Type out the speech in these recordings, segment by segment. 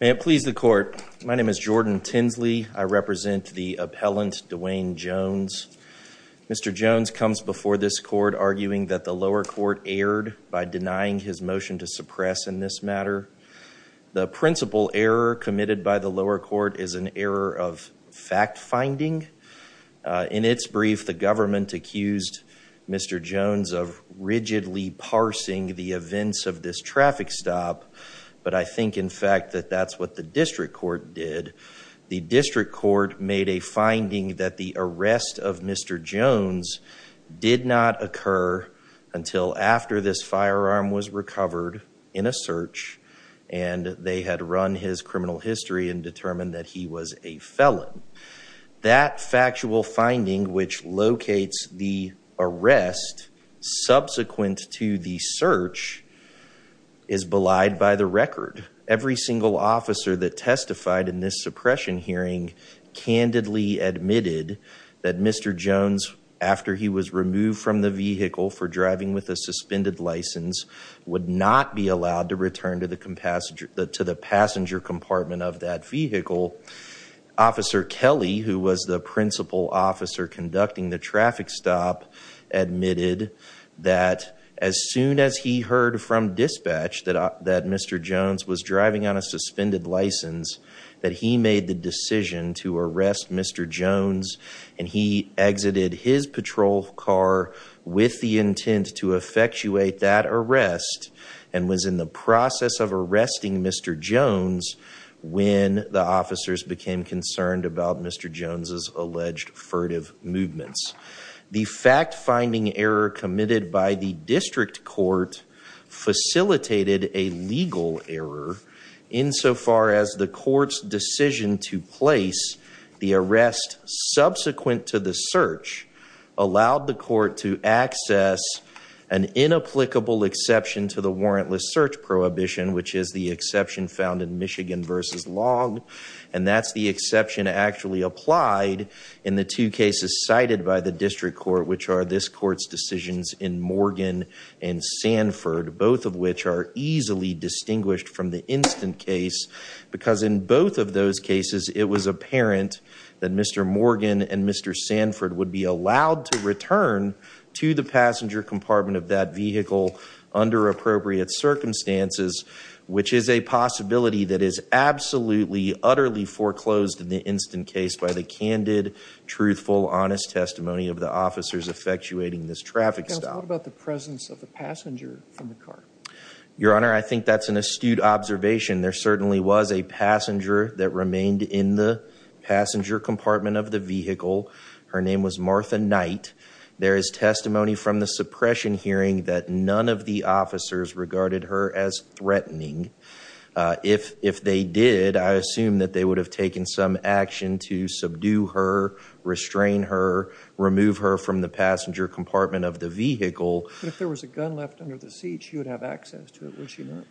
May it please the court, my name is Jordan Tinsley. I represent the appellant Dewayne Jones. Mr. Jones comes before this court arguing that the lower court erred by denying his motion to suppress in this matter. The principal error committed by the lower court is an error of fact the events of this traffic stop but I think in fact that that's what the district court did. The district court made a finding that the arrest of Mr. Jones did not occur until after this firearm was recovered in a search and they had run his criminal history and determined that he was a felon. That factual finding which locates the arrest subsequent to the search is belied by the record. Every single officer that testified in this suppression hearing candidly admitted that Mr. Jones after he was removed from the vehicle for driving with a suspended license would not be allowed to return to the passenger compartment of that vehicle. Officer Kelly who was the principal officer conducting the traffic stop admitted that as soon as he heard from dispatch that Mr. Jones was driving on a suspended license that he made the decision to arrest Mr. Jones and he exited his patrol car with the intent to effectuate that arrest and was in the process of arresting Mr. Jones when the officers became concerned about Mr. Jones's alleged furtive movements. The fact finding error committed by the district court facilitated a legal error insofar as the court's decision to place the arrest subsequent to the search allowed the court to access an inapplicable exception to the warrantless search prohibition which is the exception found in Michigan versus Long and that's the exception actually applied in the two cases cited by the district court which are this court's decisions in Morgan and Sanford both of which are easily distinguished from the instant case because in both of those cases it was apparent that Mr. Morgan and Mr. Sanford would be allowed to return to the passenger compartment of that vehicle under appropriate circumstances which is a possibility that is absolutely utterly foreclosed in the instant case by the candid truthful honest testimony of the officers effectuating this traffic stop. What about the presence of the passenger from the car? Your honor, I think that's an astute observation. There certainly was a passenger that remained in the passenger compartment of the vehicle. Her name was Martha Knight. There is testimony from the suppression hearing that none of the officers regarded her as threatening. If they did, I assume that they would have taken some action to subdue her, restrain her, remove her from the passenger compartment of the vehicle. If there was a gun left under the seat, she would have access to it, would she not?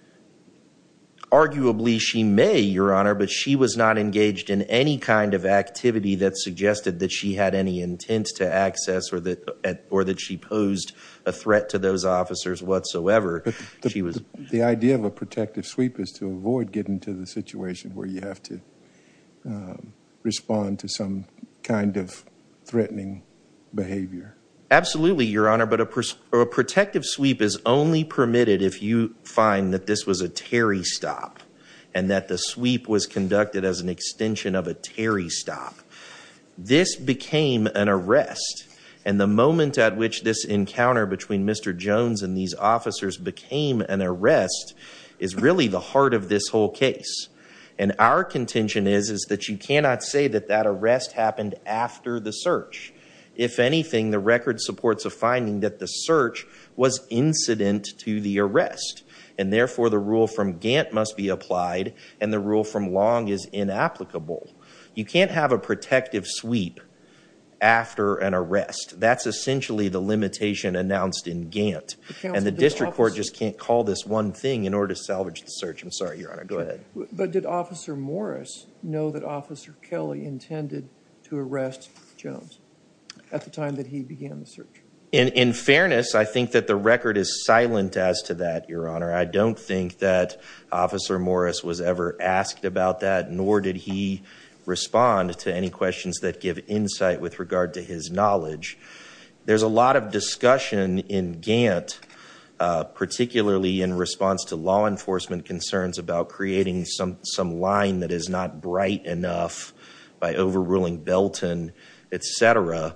Arguably she may, your honor, but she was not engaged in any kind of activity that suggested that she had any intent to access or that she posed a threat to those officers whatsoever. The idea of a protective sweep is to avoid getting to the situation where you have to respond to some kind of threatening behavior. Absolutely, your honor, but a protective sweep is only permitted if you find that this was a Terry stop and that the sweep was conducted as an extension of a Terry stop. This became an arrest and the moment at which this encounter between Mr. Jones and these officers became an arrest is really the heart of this whole case and our contention is is that you cannot say that that arrest happened after the search. If anything, the record supports a finding that the search was incident to the arrest and therefore the rule from Gantt must be applied and the rule from Long is inapplicable. You can't have a protective sweep after an arrest. That's essentially the search. I'm sorry, your honor, go ahead. But did officer Morris know that officer Kelly intended to arrest Jones at the time that he began the search? In fairness, I think that the record is silent as to that, your honor. I don't think that officer Morris was ever asked about that nor did he respond to any questions that give insight with regard to his knowledge. There's a lot of law enforcement concerns about creating some some line that is not bright enough by overruling Belton, etc.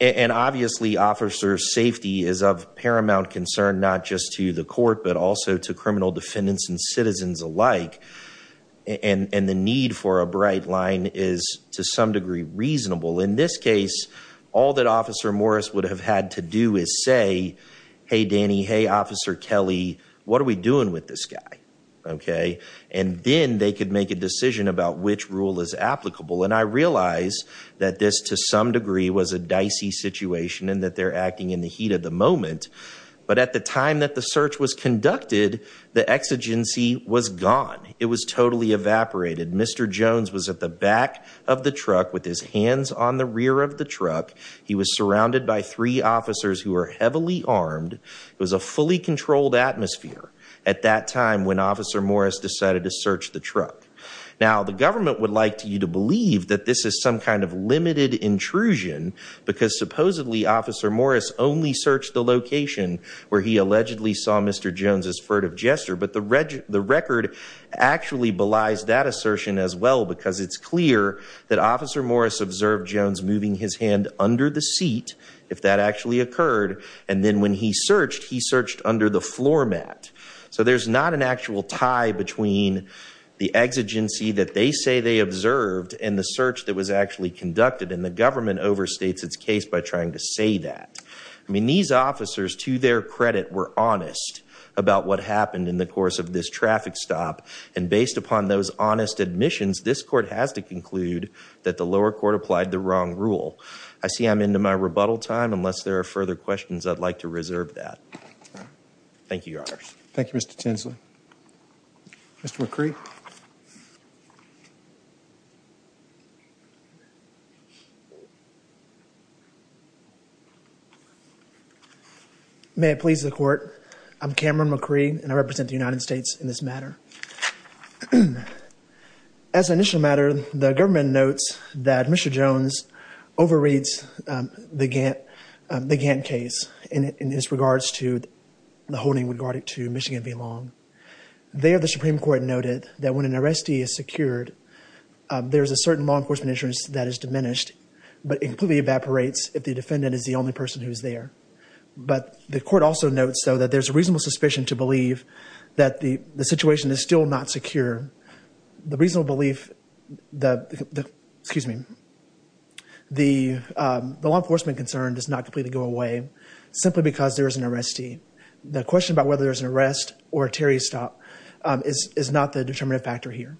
And obviously, officer safety is of paramount concern, not just to the court, but also to criminal defendants and citizens alike. And the need for a bright line is to some degree reasonable. In this case, all that officer Morris would have had to do is say, hey, Danny, hey, officer Kelly, what are we doing with this guy? OK, and then they could make a decision about which rule is applicable. And I realize that this to some degree was a dicey situation and that they're acting in the heat of the moment. But at the time that the search was conducted, the exigency was gone. It was totally evaporated. Mr. Jones was at the back of the truck with his hands on the rear of the truck. He was surrounded by three officers who are heavily armed. It was a fully controlled atmosphere at that time when officer Morris decided to search the truck. Now, the government would like to you to believe that this is some kind of limited intrusion because supposedly officer Morris only searched the location where he allegedly saw Mr. Jones's furtive gesture. But the the record actually belies that assertion as well, because it's clear that officer Morris observed Jones moving his hand under the seat, if that actually occurred. And then when he searched, he searched under the floor mat. So there's not an actual tie between the exigency that they say they observed and the search that was actually conducted. And the government overstates its case by trying to say that. I mean, these officers, to their credit, were honest about what happened in the course of this traffic stop. And based upon those honest admissions, this court has to conclude that the lower court applied the wrong rule. I see I'm into my rebuttal time. Unless there are further questions, I'd like to reserve that. Thank you, your honor. Thank you, Mr. Tinsley. Mr. McCree. May it please the court. I'm Cameron McCree and I represent the United States in this matter. As an initial matter, the government notes that Mr. Jones overreads the Gantt case in his regards to the holding regarding to Michigan v. Long. There, the Supreme Court noted that when an arrestee is secured, there's a certain law enforcement insurance that is diminished, but it completely evaporates if the defendant is the only person who's there. But the court also notes that there's a reasonable suspicion to believe that the situation is still not secure. The reasonable belief, excuse me, the law enforcement concern does not completely go away simply because there is an arrestee. The question about whether there's an arrest or a Terry stop is not the determinative factor here.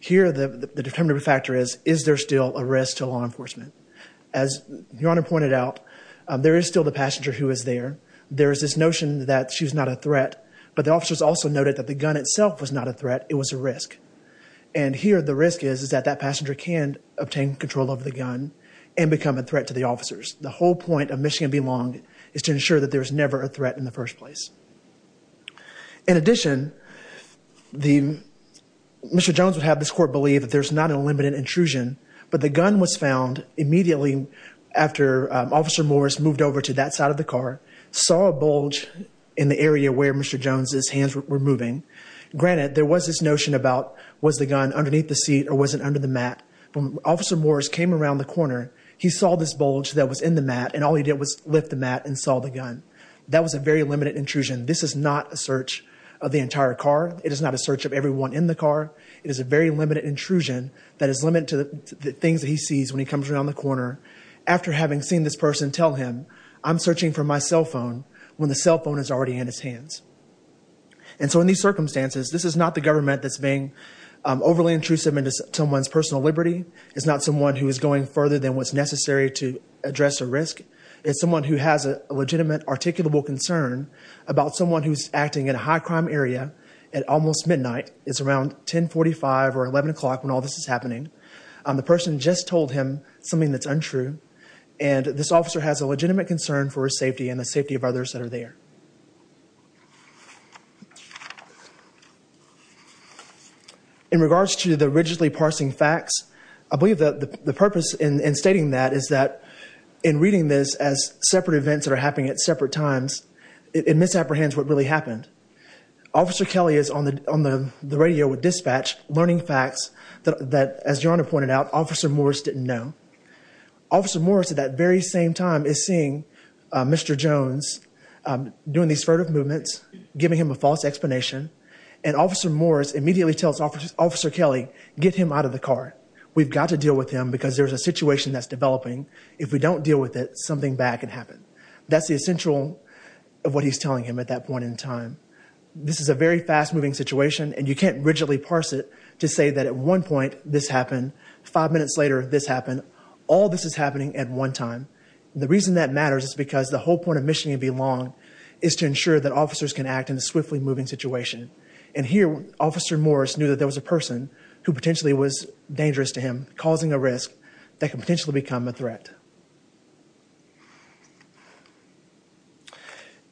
Here, the determinative factor is, is there still a risk to law enforcement? As your honor pointed out, there is still the passenger who is there. There is this notion that she was not a threat, but the officers also noted that the gun itself was not a threat. It was a risk. And here the risk is, is that that passenger can obtain control over the gun and become a threat to the officers. The whole point of Michigan v. Long is to ensure that there's never a threat in the first place. In addition, Mr. Jones would have this court believe that there's not a limited intrusion, but the gun was found immediately after Officer Morris moved over to that side of the car, saw a bulge in the area where Mr. Jones's hands were moving. Granted, there was this notion about was the gun underneath the seat or was it under the mat? When Officer Morris came around the corner, he saw this bulge that was in the mat and all he did was lift the mat and saw the gun. That was a very limited intrusion. This is not a search of the entire car. It is not a search of everyone in the car. It is a very limited intrusion that is limited to the things that he sees when he comes around the corner after having seen this person tell him, I'm searching for my cell phone when the cell phone is already in his hands. And so in these circumstances, this is not the government that's being overly intrusive into someone's personal liberty. It's not someone who is going further than what's necessary to address a risk. It's someone who has a legitimate articulable concern about someone who's acting in a high crime area at almost midnight. It's around 1045 or 11 o'clock when all this is happening. The person just told him something that's untrue and this officer has a legitimate concern for his safety and the safety of others that are there. In regards to the rigidly parsing facts, I believe that the purpose in stating that is that in reading this as separate events that are happening at separate times, it misapprehends what really happened. Officer Kelly is on the radio with dispatch learning facts that, as Your Honor pointed out, Officer Morris didn't know. Officer Morris at that very same time is seeing Mr. Jones doing these furtive movements, giving him a false explanation, and Officer Morris immediately tells Officer Kelly, get him out of the car. We've got to deal with him because there's a situation that's developing. If we don't deal with it, something bad can happen. That's the essential of what he's telling him at that point in time. This is a very one point, this happened. Five minutes later, this happened. All this is happening at one time. The reason that matters is because the whole point of missioning and belonging is to ensure that officers can act in a swiftly moving situation. And here, Officer Morris knew that there was a person who potentially was dangerous to him, causing a risk that could potentially become a threat.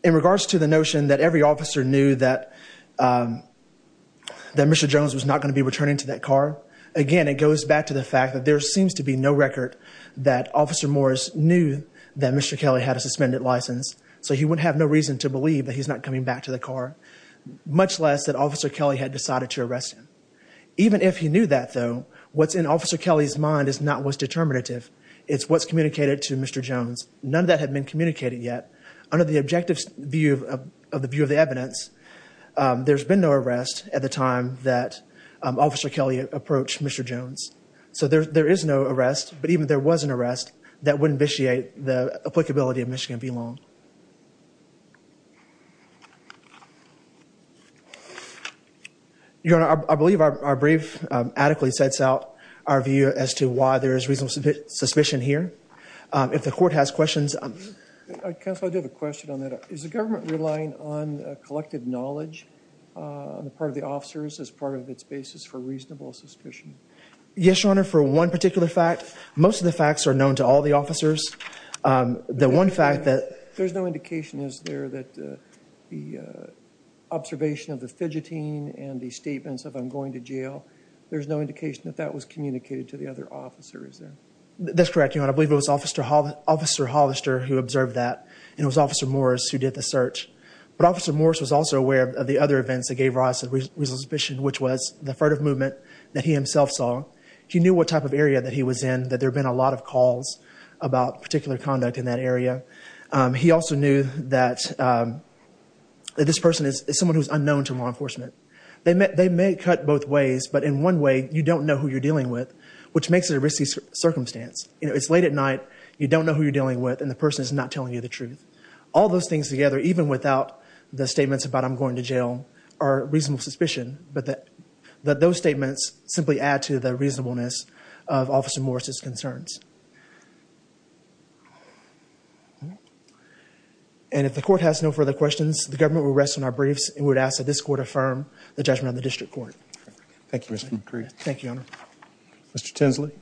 In regards to the notion that every officer knew that Mr. Jones was not going to be returning to that car, again, it goes back to the fact that there seems to be no record that Officer Morris knew that Mr. Kelly had a suspended license, so he would have no reason to believe that he's not coming back to the car, much less that Officer Kelly had decided to arrest him. Even if he knew that, though, what's in Officer Kelly's mind is not what's determinative. It's what's communicated to Mr. Jones. None of that had been communicated yet. Under the objective view of the evidence, there's been no arrest at the time that Officer Kelly approached Mr. Jones. So there is no arrest, but even if there was an arrest, that wouldn't vitiate the applicability of mission and belonging. Your Honor, I believe our brief adequately sets out our view as to why there is reasonable suspicion here. If the Court has questions... Counsel, I do have a question on that. Is the government relying on collective knowledge on the part of the officers as part of its basis for reasonable suspicion? Yes, Your Honor, for one particular fact. Most of the facts are known to all the officers. The one fact that... There's no indication, is there, that the observation of the fidgeting and the statements of, I'm going to jail, there's no indication that that was communicated to the other officer, is there? That's correct, Your Honor. I believe it was Officer Hollister who observed that, and it was Officer Morris who did the search. But Officer Morris was also aware of the other events that gave rise to reasonable suspicion, which was the furtive movement that he himself saw. He knew what type of area that he was in, that there had been a lot of calls about particular conduct in that area. He also knew that this person is someone who's unknown to law enforcement. They may cut both ways, but in one way, you don't know who you're dealing with, which makes it a risky circumstance. You know, it's late at night, you don't know who you're dealing with, and the person is not telling you the truth. All those things together, even without the statements about, I'm going to jail, are reasonable suspicion, but that those statements simply add to the reasonableness of Officer Morris' concerns. And if the Court has no further questions, the government will rest on our briefs, and we would ask that this Court affirm the judgment of the District Court. Thank you, Your Honor. Mr. Tinsley.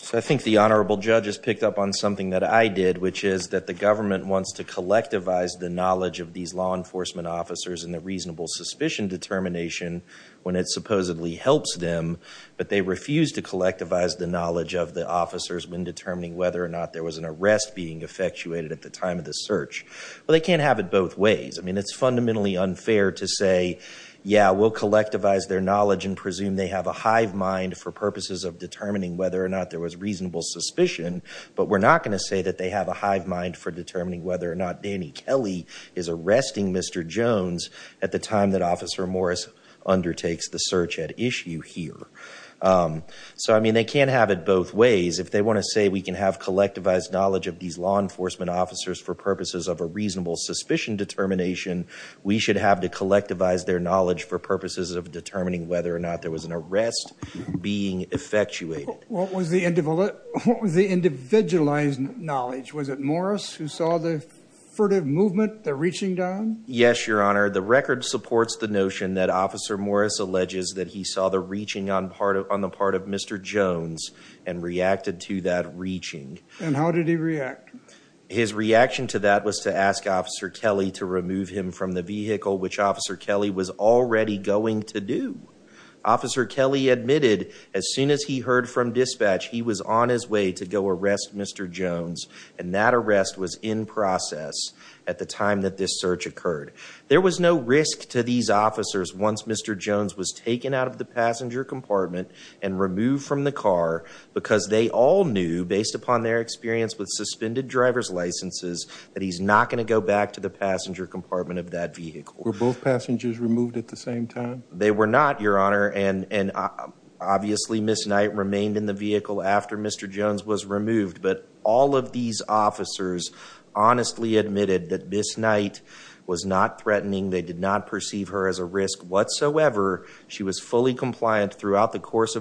So I think the Honorable Judge has picked up on something that I did, which is that the government wants to collectivize the knowledge of these law enforcement officers and the reasonable suspicion determination when it supposedly helps them, but they refuse to collectivize the knowledge of the officers when determining whether or not there was an arrest being effectuated at the time of the search. Well, they can't have it both ways. I mean, it's fundamentally unfair to say, yeah, we'll collectivize their knowledge and presume they have a hive mind for purposes of determining whether or not there was reasonable suspicion, but we're not going to say that they have a hive mind for determining whether or not Danny Kelly is arresting Mr. Jones at the time that Officer Morris undertakes the search at issue here. So I mean, they can't have it both ways. If they want to say we can have collectivized knowledge of these law enforcement officers for purposes of a reasonable suspicion determination, we should have to collectivize their knowledge for purposes of determining whether or not there was an arrest being effectuated. What was the individualized knowledge? Was it Morris who saw the furtive movement, the reaching down? Yes, Your Honor. The record supports the notion that Officer Morris alleges that he saw the reaching on the part of Mr. Jones and reacted to that His reaction to that was to ask Officer Kelly to remove him from the vehicle, which Officer Kelly was already going to do. Officer Kelly admitted as soon as he heard from dispatch, he was on his way to go arrest Mr. Jones, and that arrest was in process at the time that this search occurred. There was no risk to these officers once Mr. Jones was taken out of the passenger compartment and removed from the car, because they all knew, based upon their experience with suspended driver's licenses, that he's not going to go back to the passenger compartment of that vehicle. Were both passengers removed at the same time? They were not, Your Honor. And obviously, Ms. Knight remained in the vehicle after Mr. Jones was removed. But all of these officers honestly admitted that Ms. Knight was not threatening. They did not perceive her as a of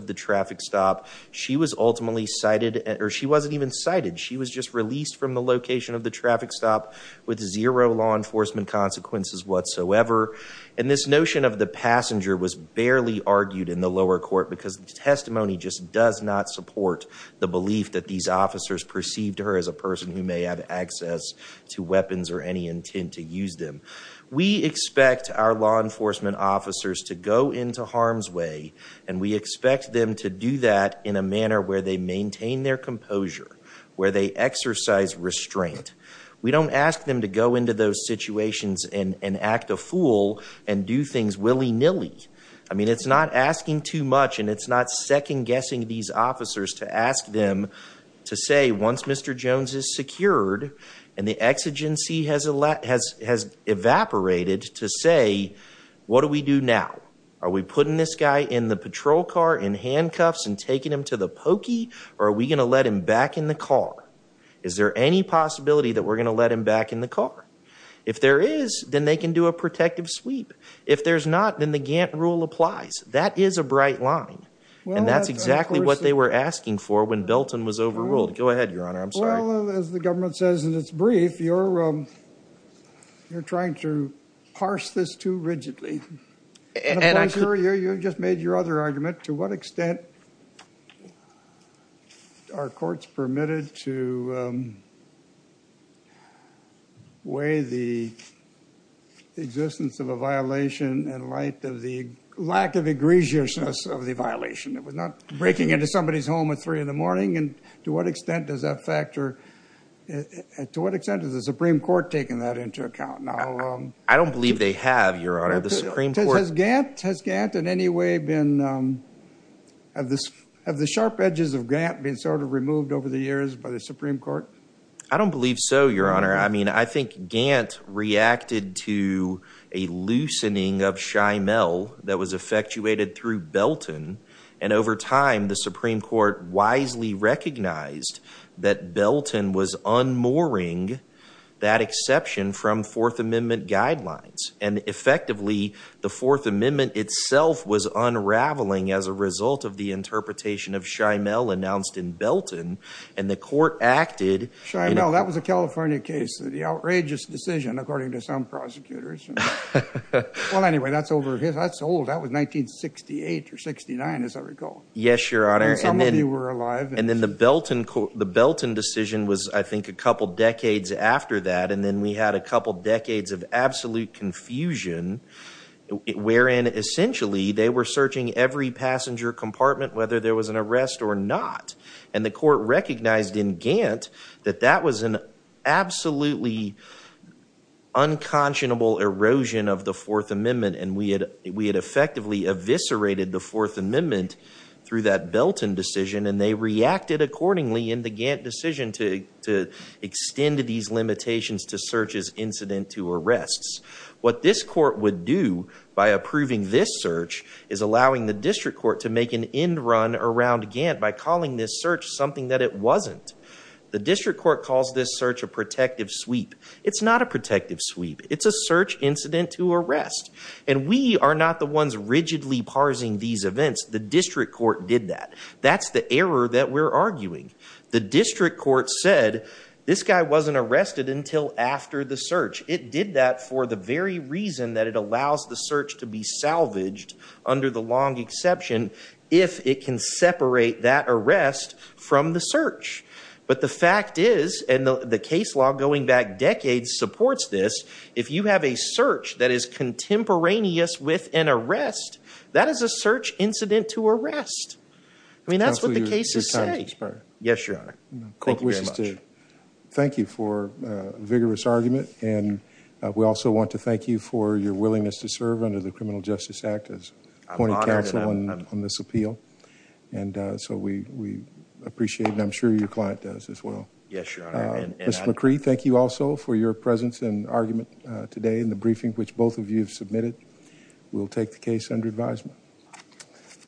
the traffic stop. She was ultimately cited, or she wasn't even cited. She was just released from the location of the traffic stop with zero law enforcement consequences whatsoever. And this notion of the passenger was barely argued in the lower court because the testimony just does not support the belief that these officers perceived her as a person who may have access to weapons or any intent to use them. We expect our law enforcement officers to go into harm's way, and we expect them to do that in a manner where they maintain their composure, where they exercise restraint. We don't ask them to go into those situations and act a fool and do things willy-nilly. I mean, it's not asking too much, and it's not second-guessing these officers to ask them to say, once Mr. Jones is secured and the exigency has evaporated, to say, what do we do now? Are we putting this guy in the patrol car, in handcuffs, and taking him to the pokey, or are we going to let him back in the car? Is there any possibility that we're going to let him back in the car? If there is, then they can do a protective sweep. If there's not, then the Gantt rule applies. That is a bright line, and that's exactly what they were asking for when Belton was overruled. Go ahead, Your Honor. I'm sorry. Well, as the government says in its brief, you're trying to parse this too rigidly. And I'm sure you just made your other argument. To what extent are courts permitted to weigh the existence of a violation in light of the lack of egregiousness of the violation? It was not breaking into somebody's home at three in the morning, and to what extent does that factor, to what extent is the Supreme Court taking that into account? I don't believe they have, Your Honor. Has Gantt in any way been, have the sharp edges of Gantt been sort of removed over the years by the Supreme Court? I don't believe so, Your Honor. I mean, I think Gantt reacted to a loosening of Shymel that was recognized that Belton was unmooring that exception from Fourth Amendment guidelines, and effectively the Fourth Amendment itself was unraveling as a result of the interpretation of Shymel announced in Belton, and the court acted. Shymel, that was a California case. The outrageous decision, according to some prosecutors. Well, anyway, that's over, that's old. That was 1968 or 69, as I recall. Yes, Your Honor. And some of you were alive. And then the Belton decision was, I think, a couple decades after that, and then we had a couple decades of absolute confusion wherein, essentially, they were searching every passenger compartment, whether there was an arrest or not, and the court recognized in Gantt that that was an absolutely unconscionable erosion of Fourth Amendment, and we had effectively eviscerated the Fourth Amendment through that Belton decision, and they reacted accordingly in the Gantt decision to extend these limitations to searches incident to arrests. What this court would do by approving this search is allowing the district court to make an end run around Gantt by calling this search something that it wasn't. The district court calls this search a protective sweep. It's not a protective sweep. It's a search incident to arrest. And we are not the ones rigidly parsing these events. The district court did that. That's the error that we're arguing. The district court said, this guy wasn't arrested until after the search. It did that for the very reason that it allows the search to be salvaged under the long exception if it can separate that arrest from the search. But the fact is, and the case law going back decades supports this, if you have a search that is contemporaneous with an arrest, that is a search incident to arrest. I mean, that's what the cases say. Yes, your honor. Thank you very much. Thank you for a vigorous argument, and we also want to thank you for your willingness to serve under the Criminal Justice Act as appointing counsel on this as well. Yes, your honor. Ms. McCree, thank you also for your presence and argument today in the briefing which both of you have submitted. We'll take the case under advisement.